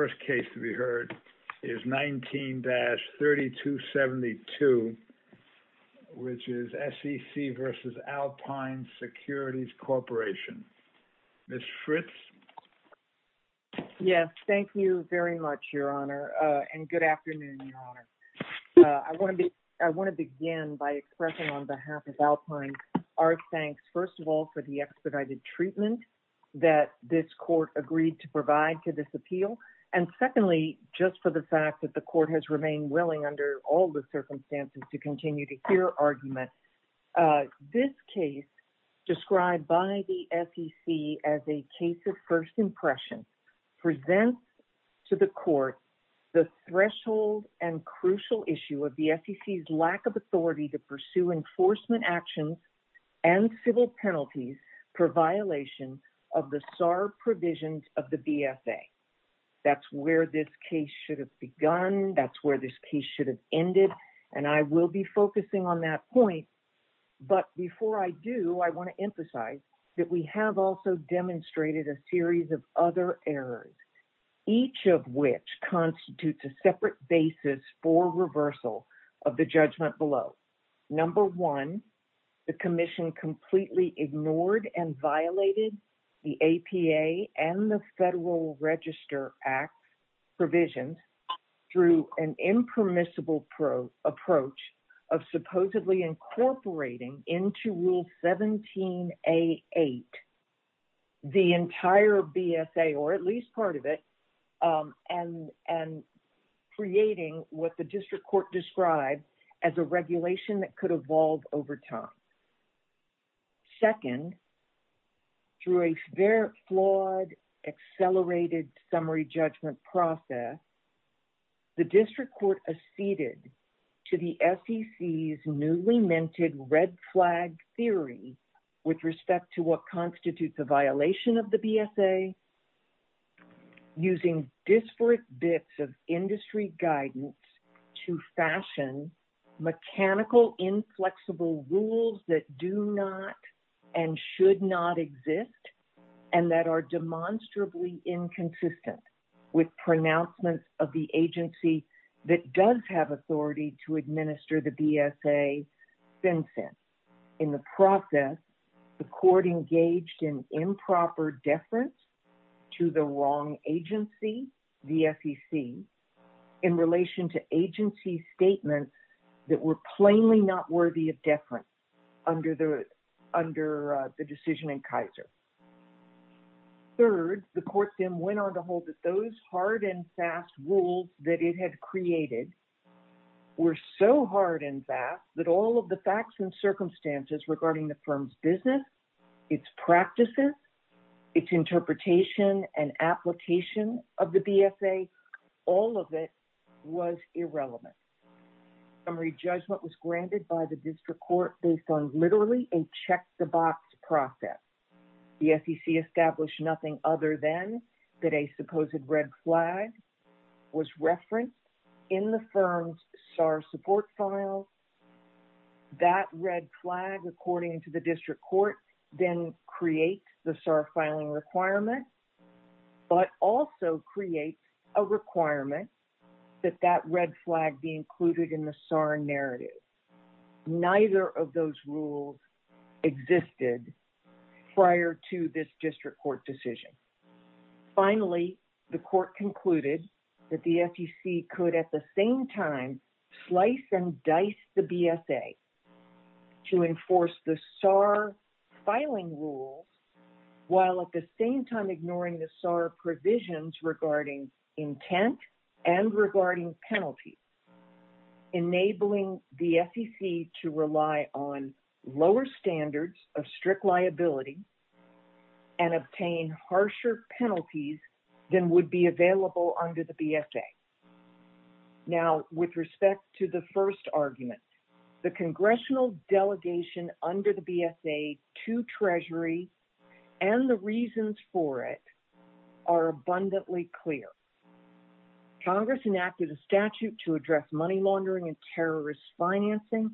first case to be heard is 19-3272, which is SEC v. Alpine Securities Corporation. Ms. Fritz? Yes, thank you very much, Your Honor, and good afternoon, Your Honor. I want to begin by expressing on behalf of Alpine our thanks, first of all, for the expedited treatment that this Court agreed to provide to this appeal, and secondly, just for the fact that the Court has remained willing, under all the circumstances, to continue to hear arguments. This case, described by the SEC as a case of first impression, presents to the Court the threshold and crucial issue of the SEC's lack of authority to pursue enforcement actions and civil penalties for violation of the SAR provisions of the BFA. That's where this case should have begun, that's where this case should have ended, and I will be focusing on that point, but before I do, I want to emphasize that we have also demonstrated a series of other errors, each of which constitutes a separate basis for reversal of the judgment below. Number one, the Commission completely ignored and violated the APA and the Federal Register Act provisions through an impermissible approach of supposedly incorporating into Rule 17A8 the entire BFA, or at least part of it, and creating what the District Court described as a regulation that could evolve over time. Second, through a flawed, accelerated summary judgment process, the District Court acceded to the SEC's newly-minted red flag theory with respect to what constitutes a violation of the BFA, using disparate bits of industry guidance to fashion mechanical, inflexible rules that do not and should not exist and that are demonstrably inconsistent with pronouncements of the agency that does have authority to administer the BFA since then. In the process, the Court engaged in in relation to agency statements that were plainly not worthy of deference under the decision in Kaiser. Third, the Court then went on to hold that those hard and fast rules that it had created were so hard and fast that all of the facts and circumstances regarding the firm's business, its practices, its interpretation and application of the BFA, all of it was irrelevant. Summary judgment was granted by the District Court based on literally a check-the-box process. The SEC established nothing other than that a supposed red flag was referenced in the firm's SAR support file. That red flag, according to the District Court, then creates the SAR filing requirement, but also creates a requirement that that red flag be included in the SAR narrative. Neither of those rules existed prior to this District Court decision. Finally, the Court concluded that the SEC could at the same time slice and dice the BFA to enforce the SAR filing rules while at the same time ignoring the SAR provisions regarding intent and regarding penalties, enabling the SEC to rely on lower standards of strict liability and obtain harsher penalties than would be available under the BFA. Now, with respect to the first argument, the Congressional delegation under the BFA to Treasury and the reasons for it are abundantly clear. Congress enacted a statute to address money financing,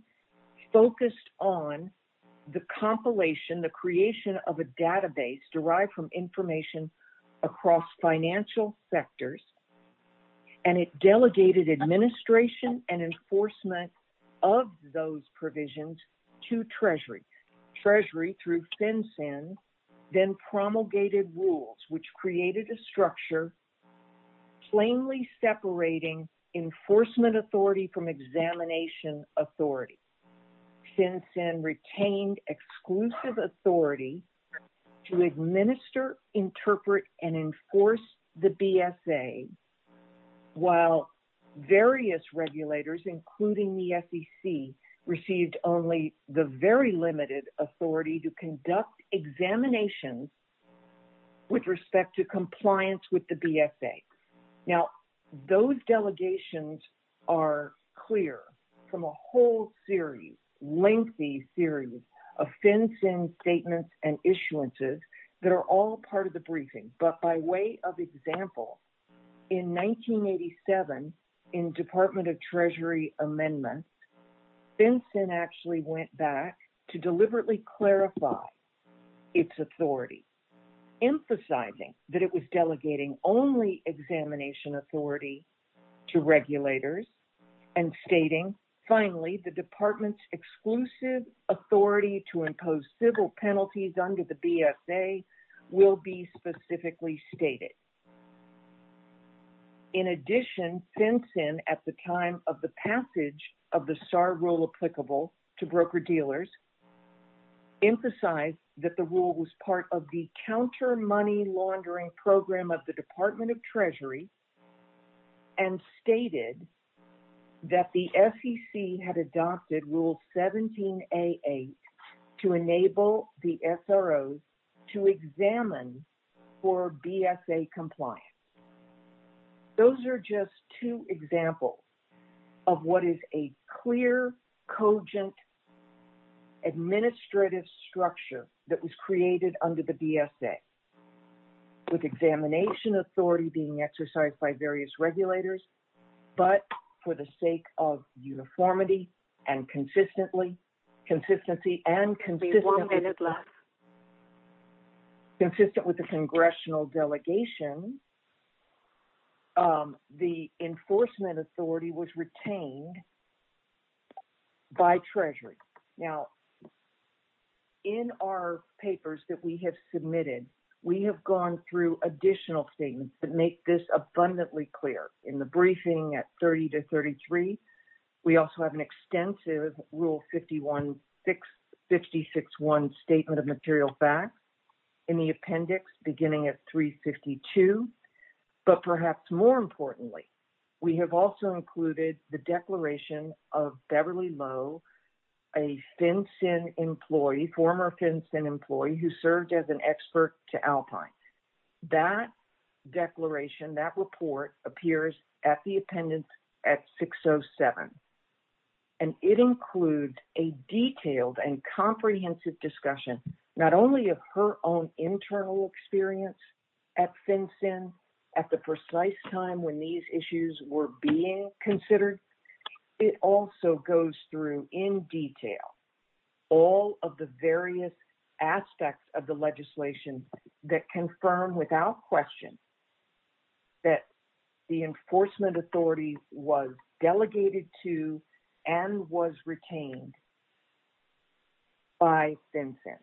focused on the compilation, the creation of a database derived from information across financial sectors, and it delegated administration and enforcement of those provisions to Treasury. Treasury, through FinCEN, then promulgated rules which created a structure plainly separating enforcement authority from examination authority. FinCEN retained exclusive authority to administer, interpret, and enforce the BFA while various regulators, including the SEC, received only the very limited authority to conduct examinations with respect to compliance with the BFA. Now, those delegations are clear from a whole series, lengthy series, of FinCEN statements and issuances that are all part of the briefing. But by way of example, in 1987, in Department of Treasury amendments, FinCEN actually went back to deliberately clarify its authority, emphasizing that it was delegating only examination authority to regulators and stating, finally, the department's exclusive authority to impose civil penalties under the BFA will be specifically stated. In addition, FinCEN, at the time of the passage of the SAR rule applicable to broker-dealers, emphasized that the rule was part of the counter-money laundering program of the Department of Treasury and stated that the SEC had adopted Rule 17A8 to enable the SROs to examine for BFA compliance. Those are just two examples of what is a clear, cogent, administrative structure that was created under the BFA, with examination authority being exercised by various regulators, but for the sake of uniformity and consistency, and consistent with the congressional delegation, the enforcement authority was retained by Treasury. Now, in our papers that we have submitted, we have gone through additional statements that make this abundantly clear. In the briefing at 30 to 33, we also have an extensive Rule 56.1 Statement of Material Facts in the appendix, beginning at 352, but perhaps more importantly, we have also included the declaration of Beverly Lowe, a FinCEN employee, former FinCEN employee, who served as an expert to Alpine. That declaration, that report, appears at the appendix at 607, and it includes a detailed and comprehensive discussion, not only of her own internal experience at FinCEN, at the precise time when these issues were being considered, it also goes through in detail all of the various aspects of the legislation that confirm without question that the enforcement authority was delegated to and was retained by FinCEN.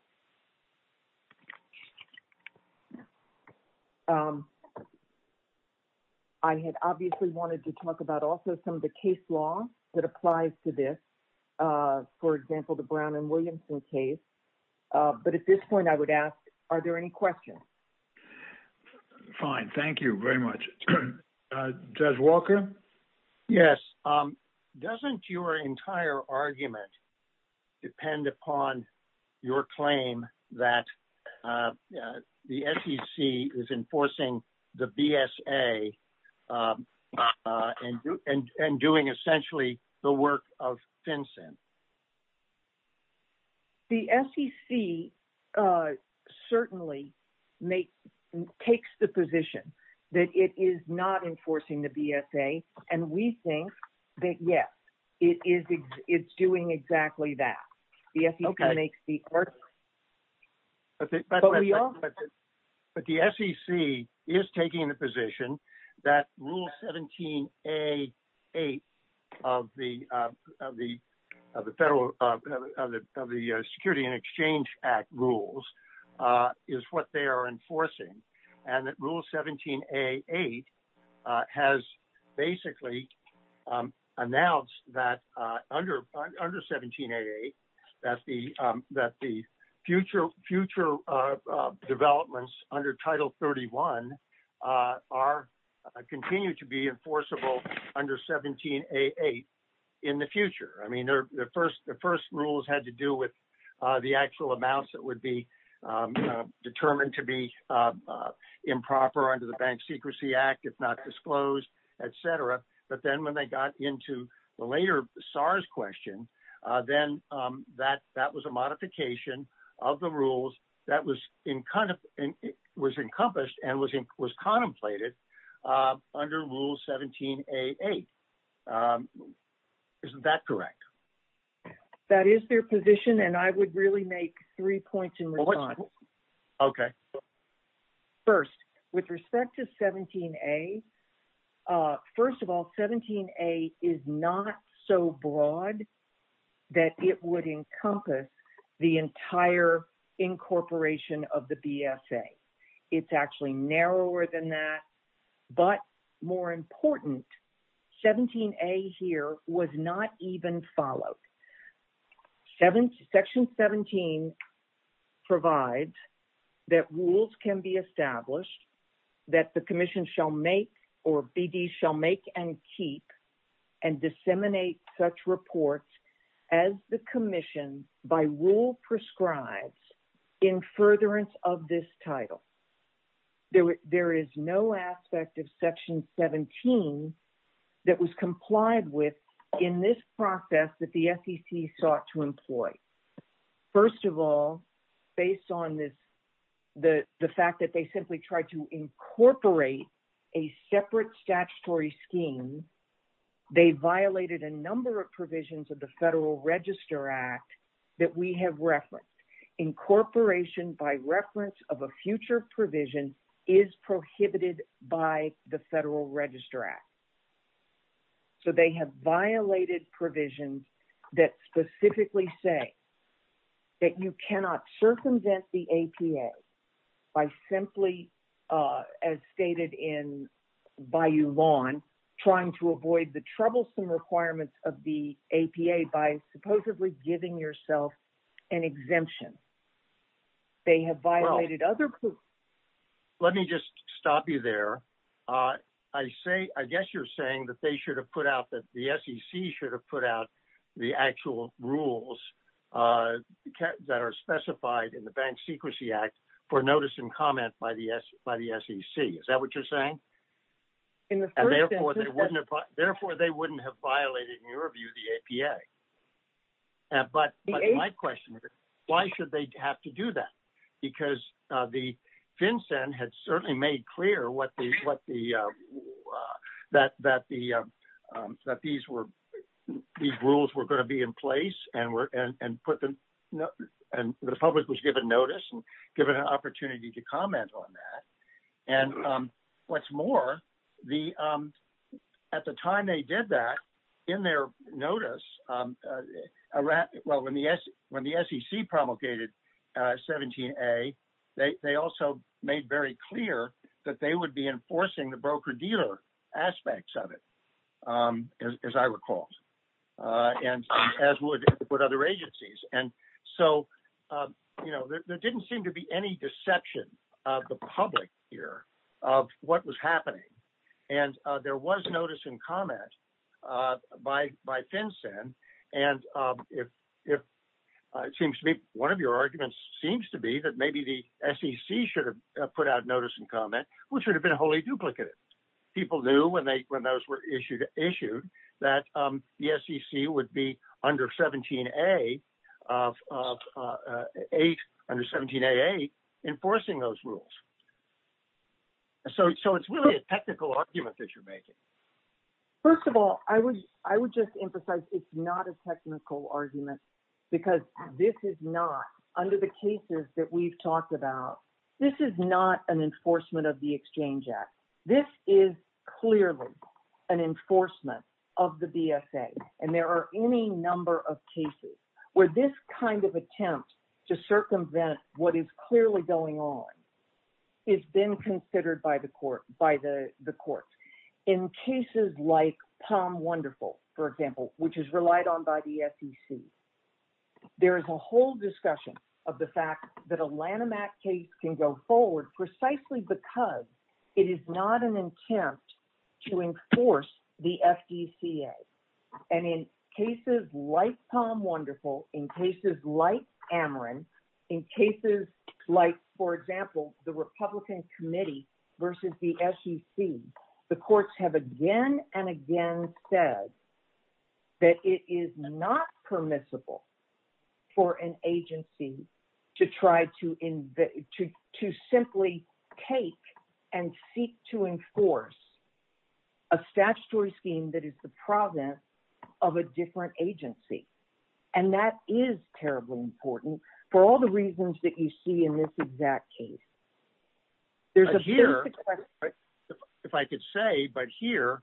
I had obviously wanted to talk about also some of the case law that applies to this. For example, the Brown and Williamson case. But at this point, I would ask, are there any questions? Okay. Fine. Thank you very much. Judge Walker? Yes. Doesn't your entire argument depend upon your claim that the SEC is enforcing the BSA and doing essentially the work of FinCEN? The SEC certainly takes the position that it is not enforcing the BSA, and we think that, yes, it's doing exactly that. The SEC makes the argument. Okay. But the SEC is taking the position that Rule 17A8 of the Federal Security and Exchange Act rules is what they are enforcing, and that Rule 17A8 has basically announced that under 17A8, that the future developments under Title 31 are continued to be enforceable under 17A8 in the future. The first rules had to do with the actual amounts that would be determined to be improper under the Bank Secrecy Act, if not disclosed, et cetera. But then when they got into the later SARS question, then that was a modification of the rules that was encompassed and was contemplated under Rule 17A8. Isn't that correct? That is their position, and I would really make three points in response. Okay. First, with respect to 17A, first of all, 17A is not so broad that it would encompass the entire incorporation of the BSA. It's actually narrower than that, but more important, 17A here was not even followed. Section 17 provides that rules can be established, that the Commission shall make or BD shall make and keep and disseminate such reports as the Commission by rule prescribes in furtherance of this title. There is no aspect of Section 17 that was complied with in this process that the SEC sought to employ. First of all, based on the fact that they simply tried to incorporate a separate statutory scheme, they violated a number of provisions of the Federal Register Act that we have referenced. Incorporation by reference of a future provision is prohibited by the Federal Register Act, so they have violated provisions that specifically say that you cannot circumvent the APA by simply, as stated in Bayou Lawn, trying to avoid the troublesome requirements of the APA by supposedly giving yourself an exemption. They have violated other provisions. Let me just stop you there. I guess you're saying that the SEC should have put out the actual rules that are specified in the Bank Secrecy Act for notice and comment by the SEC. Is that what you're saying? Therefore, they wouldn't have violated, in your view, the APA. My question is, why should they have to do that? The FinCEN had certainly made clear that these rules were going to be in place and the public was given notice and given an opportunity to comment on that. What's more, at the time they did that, in their notice, when the SEC promulgated 17A, they also made very clear that they would be enforcing the broker-dealer aspects of it, as I recall, and as would other agencies. There didn't seem to be any deception of the public here of what was happening. There was notice and comment by FinCEN. It seems to me one of your arguments seems to be that maybe the SEC should have put out notice and comment, which would have been wholly duplicated. People knew when those were issued that the SEC would be under 17A8 enforcing those rules. It's really a technical argument that you're making. First of all, I would just emphasize it's not a technical argument because this is not, under the cases that we've talked about, this is not an enforcement of the Exchange Act. This is clearly an enforcement of the BSA. There are any number of cases where this kind of attempt to circumvent what is clearly going on has been considered by the courts. In cases like Palm Wonderful, for example, which is relied on by the SEC, there is a whole discussion of the fact that a Lanham Act case can go forward precisely because it is not an attempt to enforce the FECA. In cases like Palm Wonderful, in cases like Ameren, in cases like, for example, the Republican Committee versus the SEC, the courts have again and again said that it is not permissible for an agency to simply take and seek to enforce a statutory scheme that is the province of a different agency. That is terribly important for all the reasons that you see in this exact case. Here, if I could say, but here,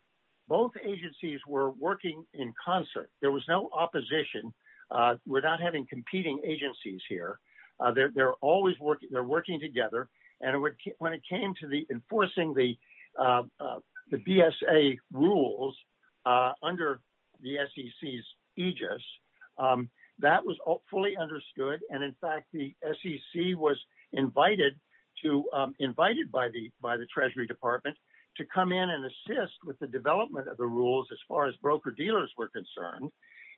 both agencies were working in concert. There was no opposition. We are not having competing agencies here. They are always working together. When it came to enforcing the BSA rules under the SEC's aegis, that was fully understood. In fact, the SEC was invited by the Treasury Department to come in and assist with the development of the rules as far as broker-dealers were concerned.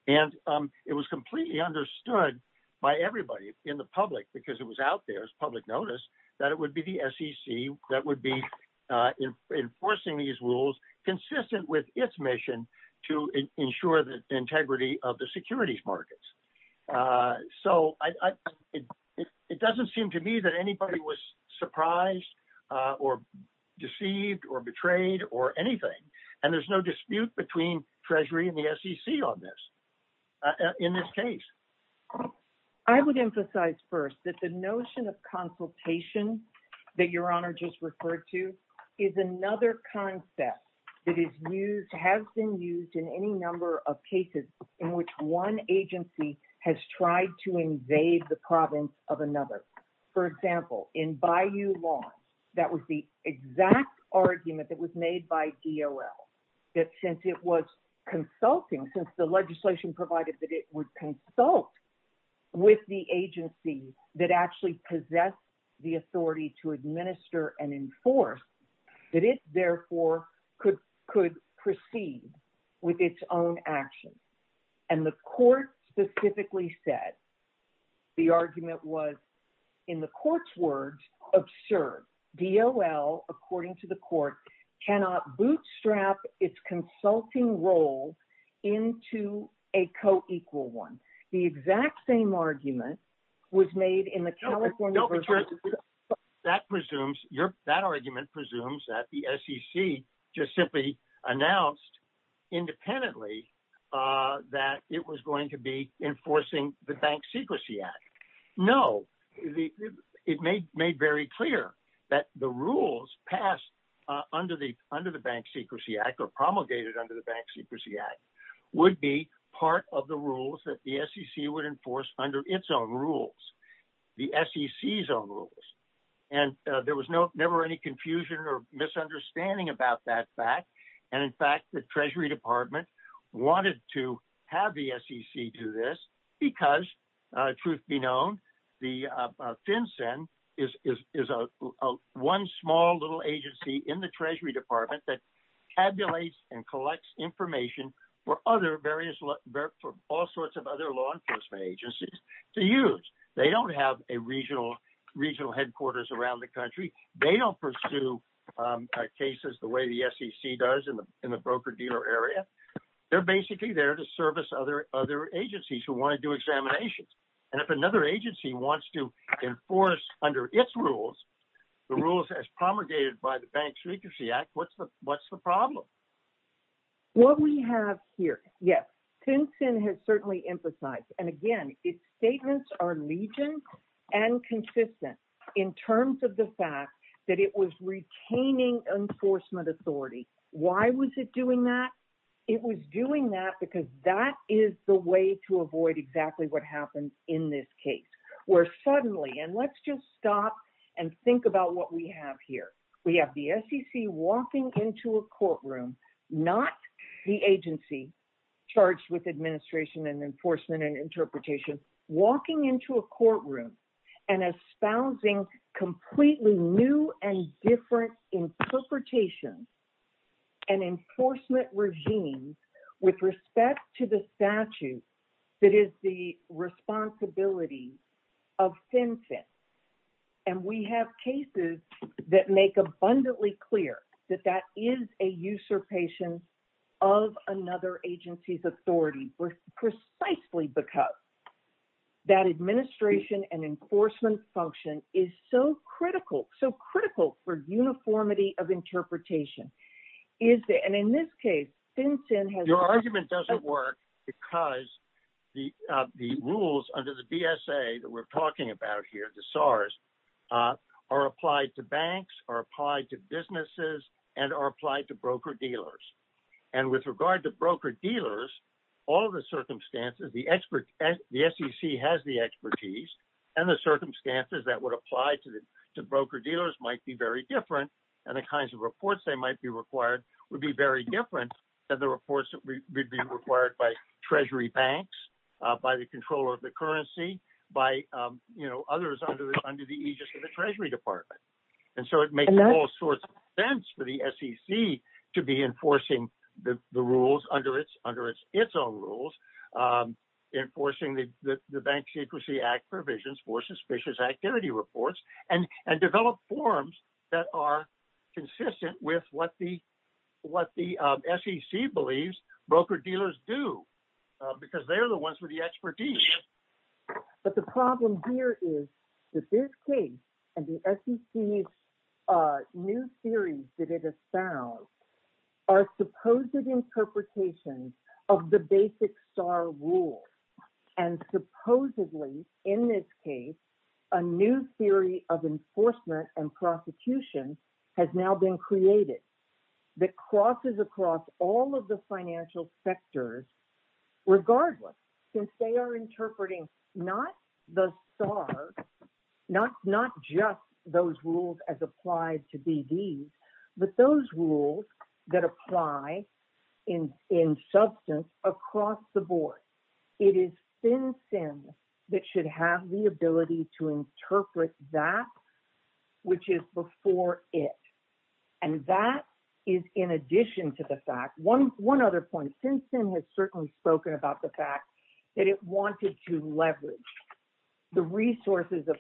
It was completely understood by everybody in the public, because it was out there as public notice, that it would be the SEC that would be enforcing these rules consistent with its mission to ensure the integrity of the securities markets. It does not seem to me that anybody was surprised or deceived or betrayed or anything. There is no dispute between Treasury and the SEC on this, in this case. I would emphasize first that the notion of consultation that Your Honor just referred to is another concept that has been used in any number of cases in which one agency has tried to invade the province of another. For example, in Bayou Lawn, that was the exact argument that was consulting, since the legislation provided that it would consult with the agency that actually possessed the authority to administer and enforce, that it therefore could proceed with its own actions. The court specifically said the argument was, in the court's words, absurd. DOL, according to the court, cannot bootstrap its consulting role into a co-equal one. The exact same argument was made in the California version. That presumes, that argument presumes that the SEC just simply announced independently that it was going to be enforcing the Bank Secrecy Act. No. It made very clear that the rules passed under the Bank Secrecy Act or promulgated under the Bank Secrecy Act would be part of the rules that the SEC would enforce under its own rules, the SEC's own rules. There was never any confusion or misunderstanding about that fact. In fact, the Treasury Department wanted to have the SEC do this because, truth be known, FinCEN is one small little agency in the Treasury Department that tabulates and collects information for all sorts of other law enforcement agencies to use. They don't have a regional headquarters around the country. They don't pursue cases the way the SEC does in the broker-dealer area. They're basically there to service other agencies who want to do examinations. And if another agency wants to enforce under its rules, the rules as promulgated by the Bank Secrecy Act, what's the problem? What we have here, yes, FinCEN has certainly emphasized, and again, its statements are legion and consistent in terms of the fact that it was retaining enforcement authority. Why was it doing that? It was doing that because that is the way to avoid exactly what happens in this case, where suddenly, and let's just stop and think about what we have here. We have the SEC walking into a courtroom, not the agency charged with administration and enforcement and interpretation, walking into a courtroom and espousing completely new and different interpretation and enforcement regimes with respect to the statute that is the responsibility of FinCEN. And we have cases that make abundantly clear that that is a usurpation of another agency's authority precisely because that administration and enforcement function is so critical, so critical for uniformity of interpretation. And in this case, FinCEN has... Your argument doesn't work because the rules under the BSA that we're talking about here, the SARS, are applied to banks, are applied to businesses, and are applied to broker-dealers. And with regard to broker-dealers, all of the circumstances, the SEC has the expertise, and the circumstances that would apply to broker-dealers might be very different, and the kinds of reports that might be required would be very different than the reports that would be required by treasury banks, by the controller of the currency, by others under the aegis of the Treasury Department. And so it makes all sorts of sense for the SEC to be enforcing the rules under its own rules, enforcing the Bank Secrecy Act provisions for suspicious activity reports, and develop forms that are consistent with what the SEC believes broker-dealers do, because they're the ones with the expertise. But the problem here is that this case, and the SEC's new theories that it has found, are supposed interpretations of the basic STAR rules. And supposedly, in this case, a new theory of enforcement and prosecution has now been created that crosses across all of the financial sectors regardless, since they are interpreting not the STAR, not just those rules as applied to BDs, but those rules that apply in substance across the board. It is FinCEN that should have the ability to interpret that which is before it. And that is in addition to the fact, one other point, FinCEN has certainly spoken about the fact that it wanted to leverage the resources of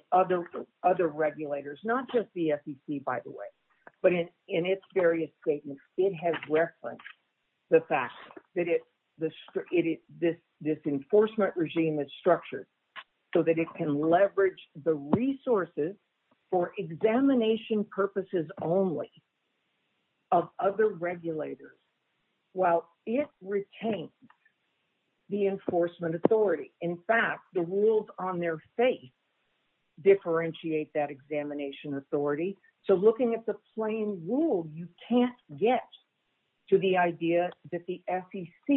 other regulators, not just the SEC, by the way, but in its various statements, it has referenced the fact that this enforcement regime is structured so that it can leverage the resources for examination purposes only of other regulators, while it retains the enforcement authority. In fact, the rules on their faith differentiate that examination authority. So looking at the plain rule, you can't get to the idea that the SEC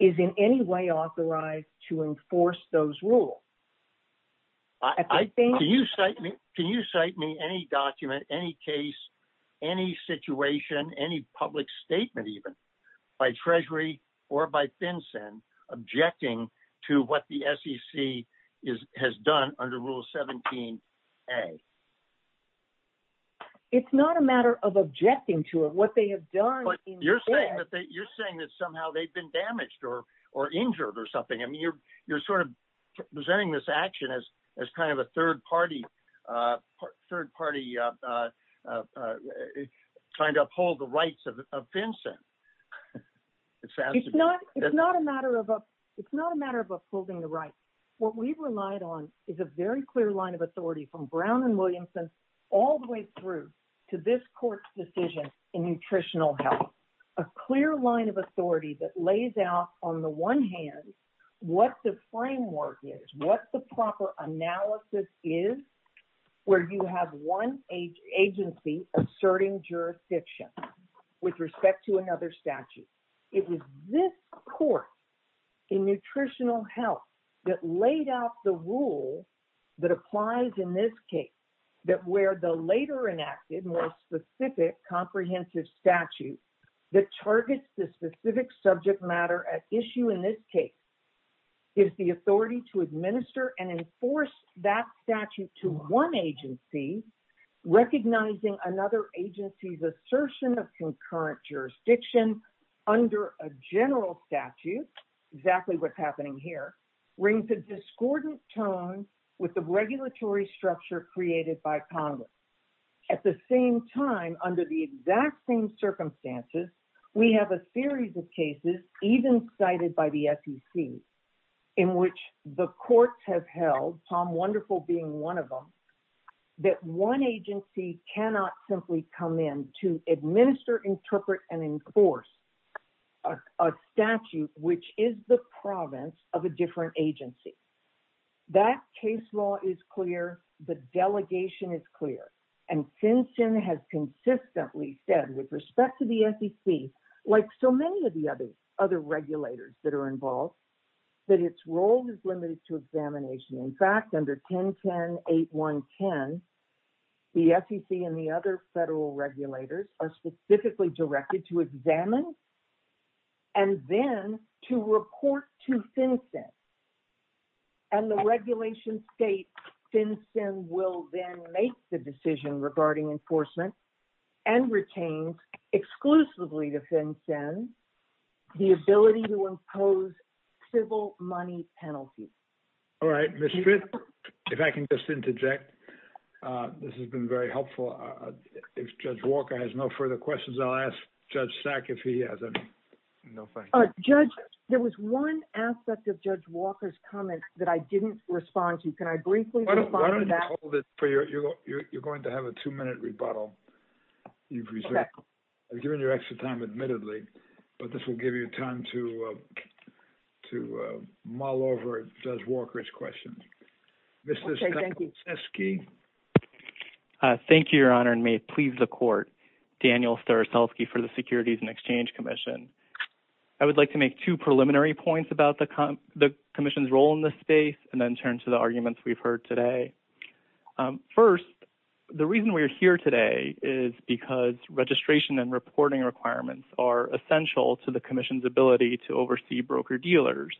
is in any way authorized to enforce those rules. Can you cite me any document, any case, any situation, any public statement even by Treasury or by FinCEN objecting to what the SEC has done under Rule 17A? It's not a matter of objecting to it. What they have done... But you're saying that somehow they've been damaged or injured or something. I mean, you're sort of presenting this action as kind of a third party trying to uphold the rights of FinCEN. It's not a matter of upholding the rights. What we've relied on is a very clear line of authority from Brown and Williamson all the way through to this court's decision in nutritional health, a clear line of authority that lays out on the one hand what the framework is, what the proper analysis is, where you have one agency asserting jurisdiction with respect to another statute. It was this court in nutritional health that laid out the rule that applies in this case, that where the later enacted more specific comprehensive statute that targets the specific subject matter at issue in this case is the authority to administer and enforce that statute to one agency, recognizing another agency's assertion of concurrent jurisdiction under a general statute, exactly what's happening here, brings a discordant tone with the regulatory structure created by Congress. At the same time, under the exact same circumstances, we have a series of cases even cited by the SEC in which the courts have held, Tom Wonderful being one of them, that one agency cannot simply come in to administer, interpret, and enforce a statute which is the province of a different agency. That case law is clear, the delegation is clear, and FinCEN has consistently said with respect to the SEC, like so many of the other regulators that are involved, that its role is limited to examination. In fact, under 10.10.8.1.10, the SEC and the other federal regulators are specifically directed to examine and then to report to FinCEN. And the regulation states FinCEN will then make the decision regarding enforcement and retain exclusively to FinCEN the ability to impose civil money penalty. All right, Ms. Fitt, if I can just interject, this has been very helpful. If Judge Walker has no further questions, I'll ask Judge Sack if he has any. No, thank you. Judge, there was one aspect of Judge Walker's comment that I didn't respond to. Can I briefly respond to that? You're going to have a two-minute rebuttal. I've given you extra time, admittedly, but this will give you time to mull over Judge Walker's questions. Thank you, Your Honor, and may it please the Court, Daniel Staroselsky for the Securities and Exchange Commission. I would like to make two preliminary points about the Commission's role in this space and then turn to the arguments we've heard today. First, the reason we're here today is because registration and reporting requirements are for brokers and dealers.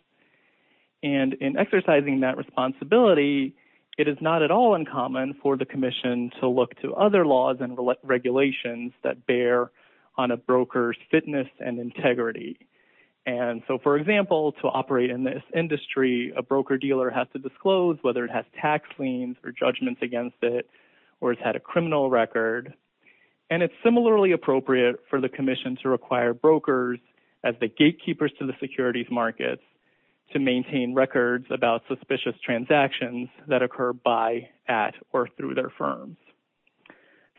In exercising that responsibility, it is not at all uncommon for the Commission to look to other laws and regulations that bear on a broker's fitness and integrity. For example, to operate in this industry, a broker-dealer has to disclose whether it has tax liens or judgments against it or has had a criminal record. It's similarly appropriate for the Commission to require brokers as the gatekeepers to the securities markets to maintain records about suspicious transactions that occur by, at, or through their firms.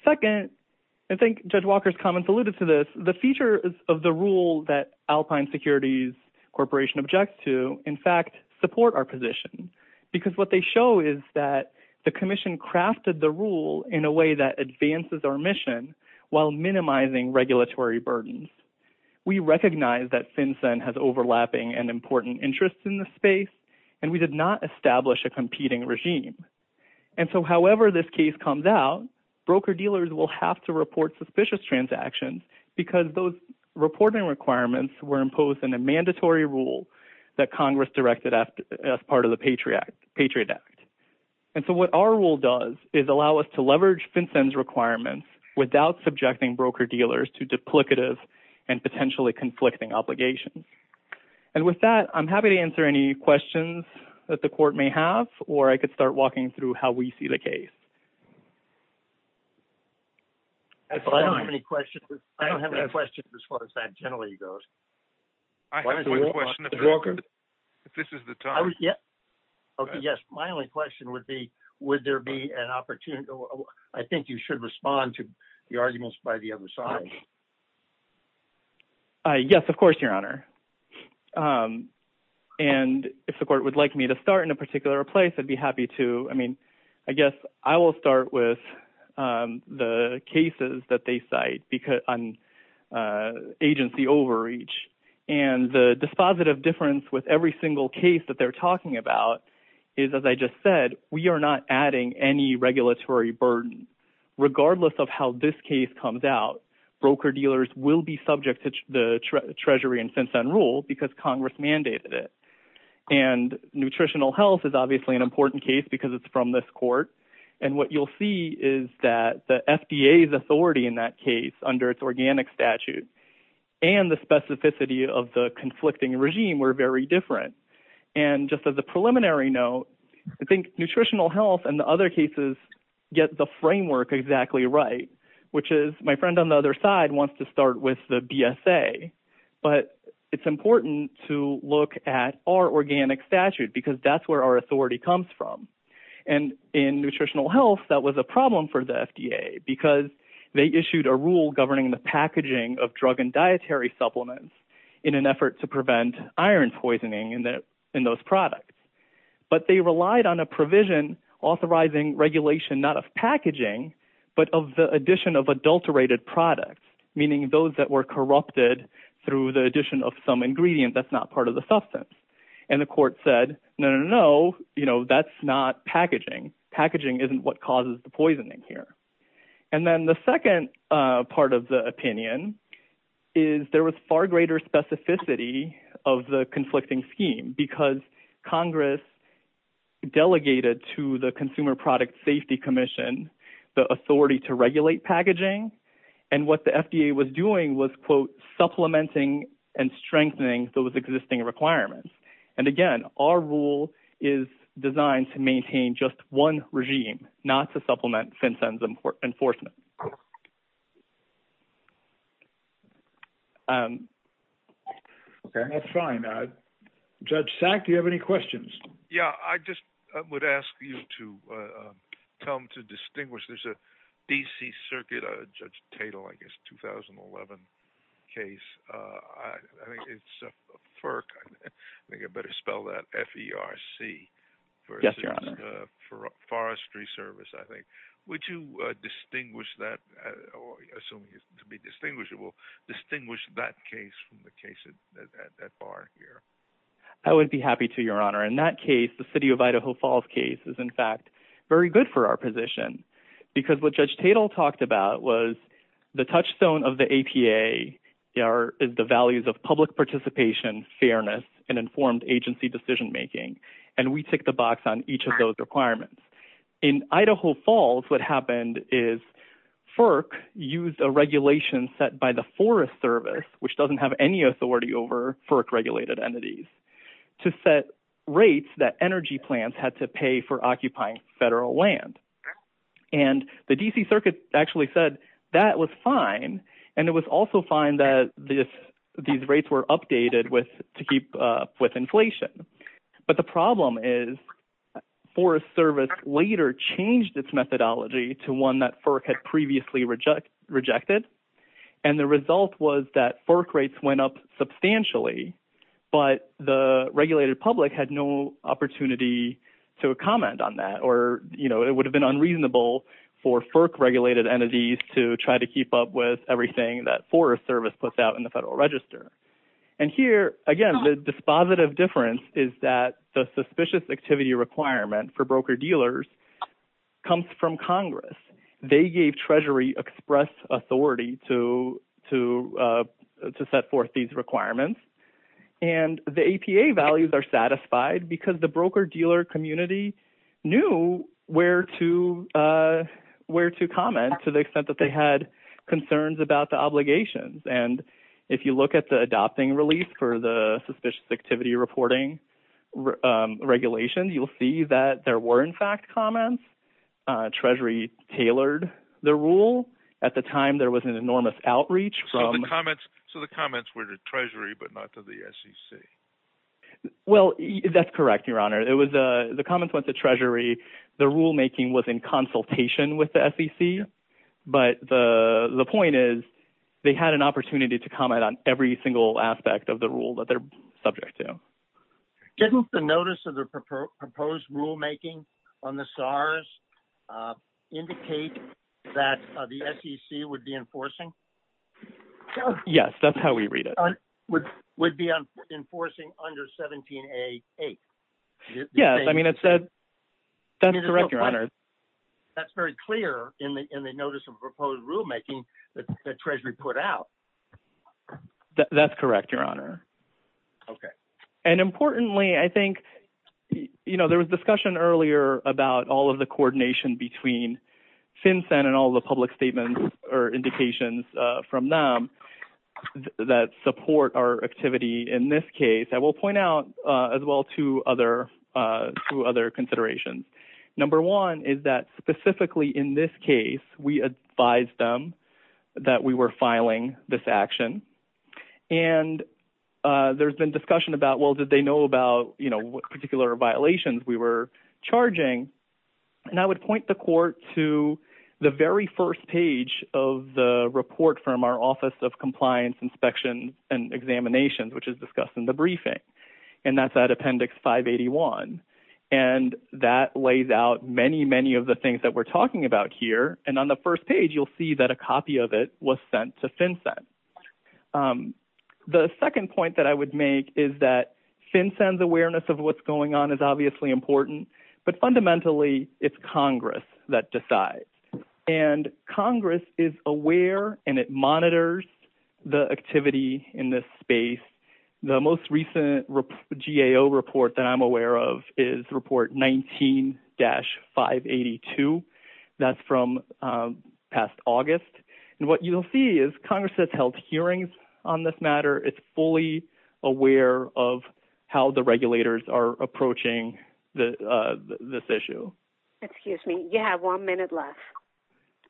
Second, I think Judge Walker's comments alluded to this. The features of the rule that Alpine Securities Corporation objects to, in fact, support our position because what they show is that the regulatory burdens. We recognize that FinCEN has overlapping and important interests in the space and we did not establish a competing regime. And so however this case comes out, broker-dealers will have to report suspicious transactions because those reporting requirements were imposed in a mandatory rule that Congress directed as part of the Patriot Act. And so what our rule does is allow us to leverage FinCEN's requirements without subjecting broker-dealers to duplicative and potentially conflicting obligations. And with that, I'm happy to answer any questions that the Court may have or I could start walking through how we see the case. I don't have any questions. I don't have any questions as far as that generally goes. I have one question. If this is the time. Yes, my only question would be, would there be an opportunity, I think you should respond to the arguments by the other side. Yes, of course, Your Honor. And if the Court would like me to start in a particular place, I'd be happy to. I mean, I guess I will start with the cases that they cite on agency overreach. And the dispositive difference with every single case that they're talking about is, as I just said, we are not adding any regulatory burden. Regardless of how this case comes out, broker-dealers will be subject to the Treasury and FinCEN rule because Congress mandated it. And nutritional health is obviously an important case because it's from this Court. And what you'll see is that the FDA's authority in that case under its organic statute and the specificity of the conflicting regime were very different. And just as a preliminary note, I think nutritional health and the other cases get the framework exactly right, which is my friend on the other side wants to start with the BSA. But it's important to look at our organic statute because that's where our authority comes from. And in nutritional health, that was a problem for the FDA because they issued a rule governing the packaging of drug and dietary supplements in an effort to prevent iron poisoning in those products. But they relied on a provision authorizing regulation, not of packaging, but of the addition of adulterated products, meaning those that were corrupted through the addition of some ingredient that's not part of the substance. And the Court said, no, no, no, that's not packaging. Packaging isn't what causes the poisoning here. And then the second part of the opinion is there was far greater specificity of the conflicting scheme because Congress delegated to the Consumer Product Safety Commission the authority to regulate packaging. And what the FDA was doing was, quote, the FDA was regulating the packaging of those products, not the packaging of those products. And that's why we have this existing requirement. And again, our rule is designed to maintain just one regime, not to supplement FinCEN's enforcement. Okay, that's fine. Judge Sack, do you have any questions? Yeah, I just would ask you to tell them to distinguish. There's a DC Circuit, Judge Tatel, I guess, 2011 case. I think it's FERC. I think I better spell that F-E-R-C. Yes, Your Honor. For forestry service, I think. Would you distinguish that, or assuming it's to be distinguishable, distinguish that case from the case at that bar here? I would be happy to, Your Honor. In that case, the City of Idaho Falls case is, in fact, very good for our position because what Judge Tatel talked about was the touchstone of the APA is the values of public participation, fairness, and informed agency decision-making. And we tick the box on each of those requirements. In Idaho Falls, what happened is FERC used a regulation set by the Forest Service, which doesn't have any authority over FERC-regulated entities, to set rates that energy plants had to pay for occupying federal land. And the DC Circuit actually said that was fine. And it was also fine that these rates were updated to keep up with inflation. But the problem is Forest Service later changed its methodology to that FERC had previously rejected. And the result was that FERC rates went up substantially, but the regulated public had no opportunity to comment on that. Or, you know, it would have been unreasonable for FERC-regulated entities to try to keep up with everything that Forest Service puts out in the Federal Register. And here, again, the dispositive difference is that the suspicious activity requirement for broker-dealers comes from Congress. They gave Treasury express authority to set forth these requirements. And the APA values are satisfied because the broker-dealer community knew where to comment to the extent that they had concerns about the obligations. And if you look at the adopting release for the suspicious activity reporting regulations, you'll see that there were, in fact, comments. Treasury tailored the rule. At the time, there was an enormous outreach from... So the comments were to Treasury, but not to the SEC? Well, that's correct, Your Honor. The comments went to Treasury. The rulemaking was in consultation with the SEC. But the point is, they had an opportunity to comment on every single aspect of the rule that they're subject to. Didn't the notice of the proposed rulemaking on the SARs indicate that the SEC would be enforcing? Yes, that's how we read it. Would be enforcing under 17A8? Yes, I mean, it said... That's correct, Your Honor. That's very clear in the notice of proposed rulemaking that Treasury put out. That's correct, Your Honor. Okay. And importantly, I think, you know, there was discussion earlier about all of the coordination between FinCEN and all the public statements or indications from them that support our activity. In this case, I will point out as well two other considerations. Number one is that specifically in this case, we advised them that we were filing this action. And there's been discussion about, well, did they know about, you know, what particular violations we were charging? And I would point the court to the very first page of the report from our Office of Compliance Inspections and Examinations, which is discussed in the briefing. And that's at Appendix 581. And that lays out many, many of the things that we're talking about here. And on the first page, you'll see that a copy of it was sent to FinCEN. The second point that I would make is that FinCEN's awareness of what's going on is obviously important, but fundamentally it's Congress that decides. And Congress is aware and it monitors the activity in this space. The most recent GAO report that I'm aware of is Report 19-582. That's from past August. And what you'll see is Congress has held hearings on this matter. It's fully aware of how the regulators are machining and upholding the rulings. So, ah, at least to be note with assets. Okay. The court has one minute left.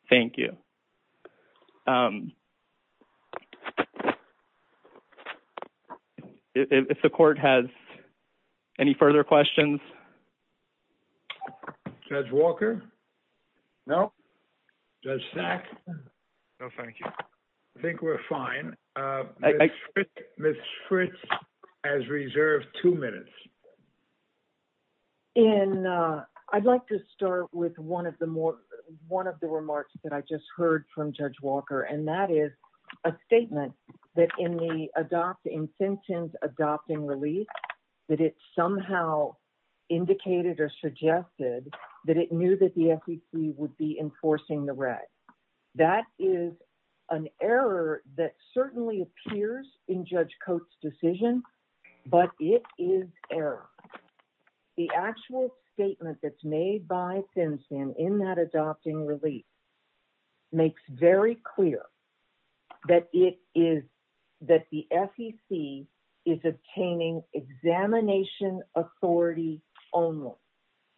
Thank you. If the court has any further questions? Judge Walker? No. Judge Sacks? No, thank you. I think we're fine. Ms. Fritz has reserved two minutes. In, ah, I'd like to start with one of the more, one of the remarks that I just heard from Judge Walker, and that is a statement that in the adopt, in sentence adopting release, that it somehow indicated or suggested that it knew that the FEC would be enforcing the red. That is an error that certainly appears in Judge Coates' decision, but it is error. The actual statement that's made by FinCEN in that adopting release makes very clear that it is, that the FEC is obtaining examination authority only.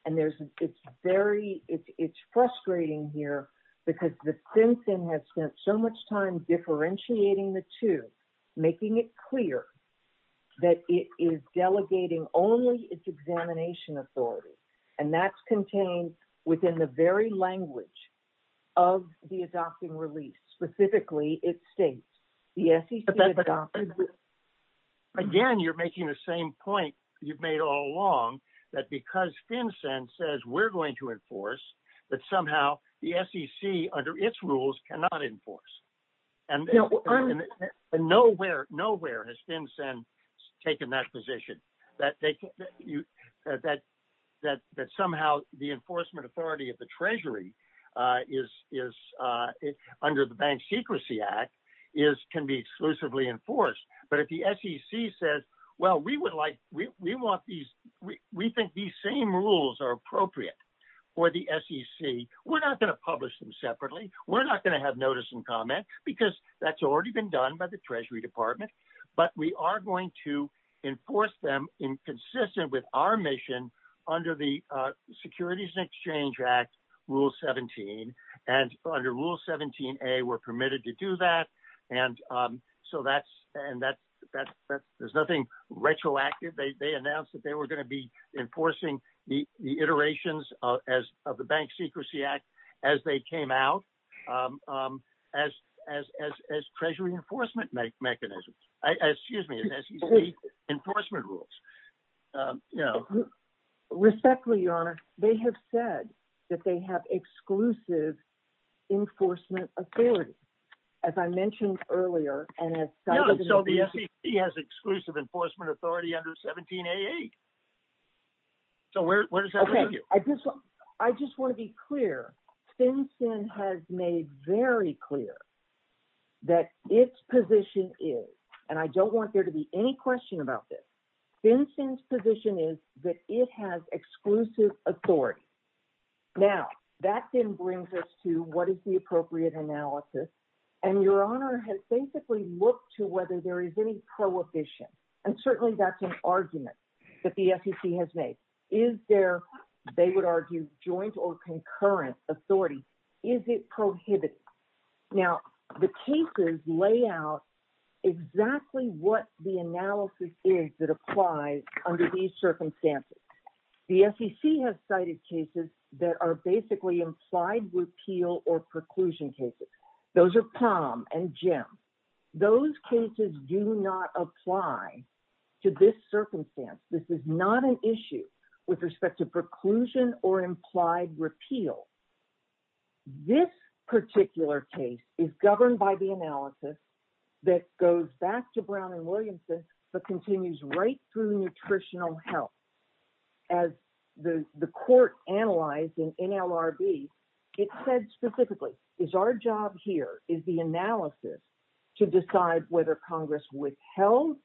And there's, it's very, it's frustrating here because the FinCEN has spent so much time differentiating the two, making it clear that it is delegating only its examination authority. And that's contained within the very adopt. Again, you're making the same point you've made all along, that because FinCEN says we're going to enforce, that somehow the SEC under its rules cannot enforce. And nowhere, nowhere has FinCEN taken that position, that they, that, that, that somehow the enforcement authority of the Treasury is, is under the Bank Secrecy Act, is, can be exclusively enforced. But if the SEC says, well, we would like, we want these, we think these same rules are appropriate for the SEC, we're not going to publish them separately. We're not going to have notice and comment because that's already been done by the Treasury Department. But we are going to enforce them in consistent with our mission under the Securities and Exchange Act, Rule 17. And under Rule 17a, we're permitted to do that. And so that's, and that, that, that there's nothing retroactive. They, they announced that they were going to be enforcing the, the iterations of, as of the Bank Secrecy Act, as they came out, as, as, as Treasury enforcement mechanisms, excuse me, as SEC enforcement rules, you know. Respectfully, Your Honor, they have said that they have exclusive enforcement authority, as I mentioned earlier, and as cited in the- So the SEC has exclusive enforcement authority under 17a8. So where, where does that leave you? I just want to be clear. FinCEN has made very clear that its position is, and I don't want there to be any question about this, FinCEN's position is that it has exclusive authority. Now, that then brings us to what is the appropriate analysis. And Your Honor has basically looked to whether there is any prohibition. And certainly that's an argument that the SEC has made. Is there, they would argue, joint or concurrent authority? Is it prohibited? Now, the cases lay out exactly what the analysis is that applies under these circumstances. The SEC has cited cases that are basically implied repeal or preclusion cases. Those are Palm and Jim. Those cases do not apply to this circumstance. This is not an issue with respect to preclusion or implied repeal. This particular case is governed by the analysis that goes back to Brown and Williamson, but continues right through nutritional health. As the court analyzed in NLRB, it said specifically, is our job here is the analysis to decide whether Congress withheld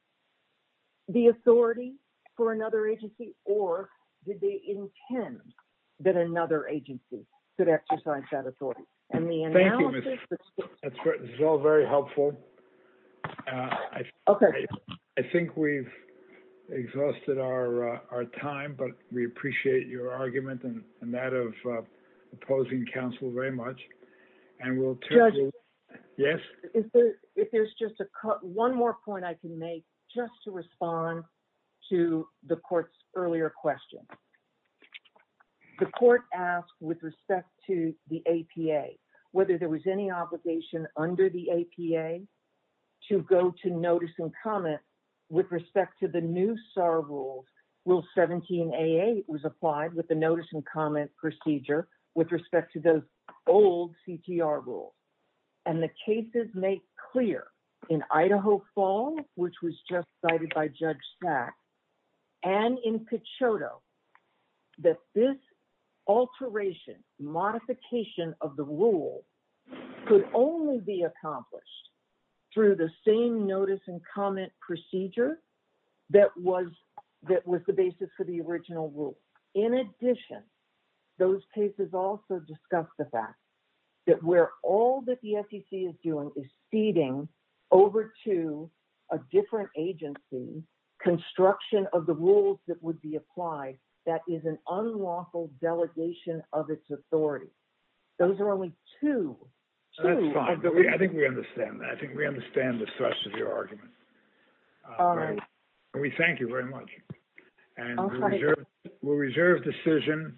the authority for another agency, or did they intend that another agency could exercise that authority? And the analysis- Thank you, Ms. That's all very helpful. I think we've exhausted our time, but we appreciate your argument and that of opposing counsel very much. And we'll- Yes? If there's just one more point I can make, just to respond to the court's earlier question. The court asked with respect to the APA, whether there was any obligation under the APA to go to notice and comment with respect to the new SAR rules, Rule 17AA was applied with the notice and comment procedure with respect to those old CTR rules. And the cases make clear in Idaho Fall, which was just cited by Judge Sack, and in Cochoto, that this alteration, modification of the rule could only be accomplished through the same notice and comment procedure that was the basis for the original rule. In addition, those cases also discuss the fact that where all that the SEC is doing is feeding over to a different agency construction of the rules that would be applied, that is an unlawful delegation of its authority. Those are only two- That's fine. I think we understand that. I think we understand the thrust of your argument. All right. And we thank you very much. All right. And we'll reserve decision.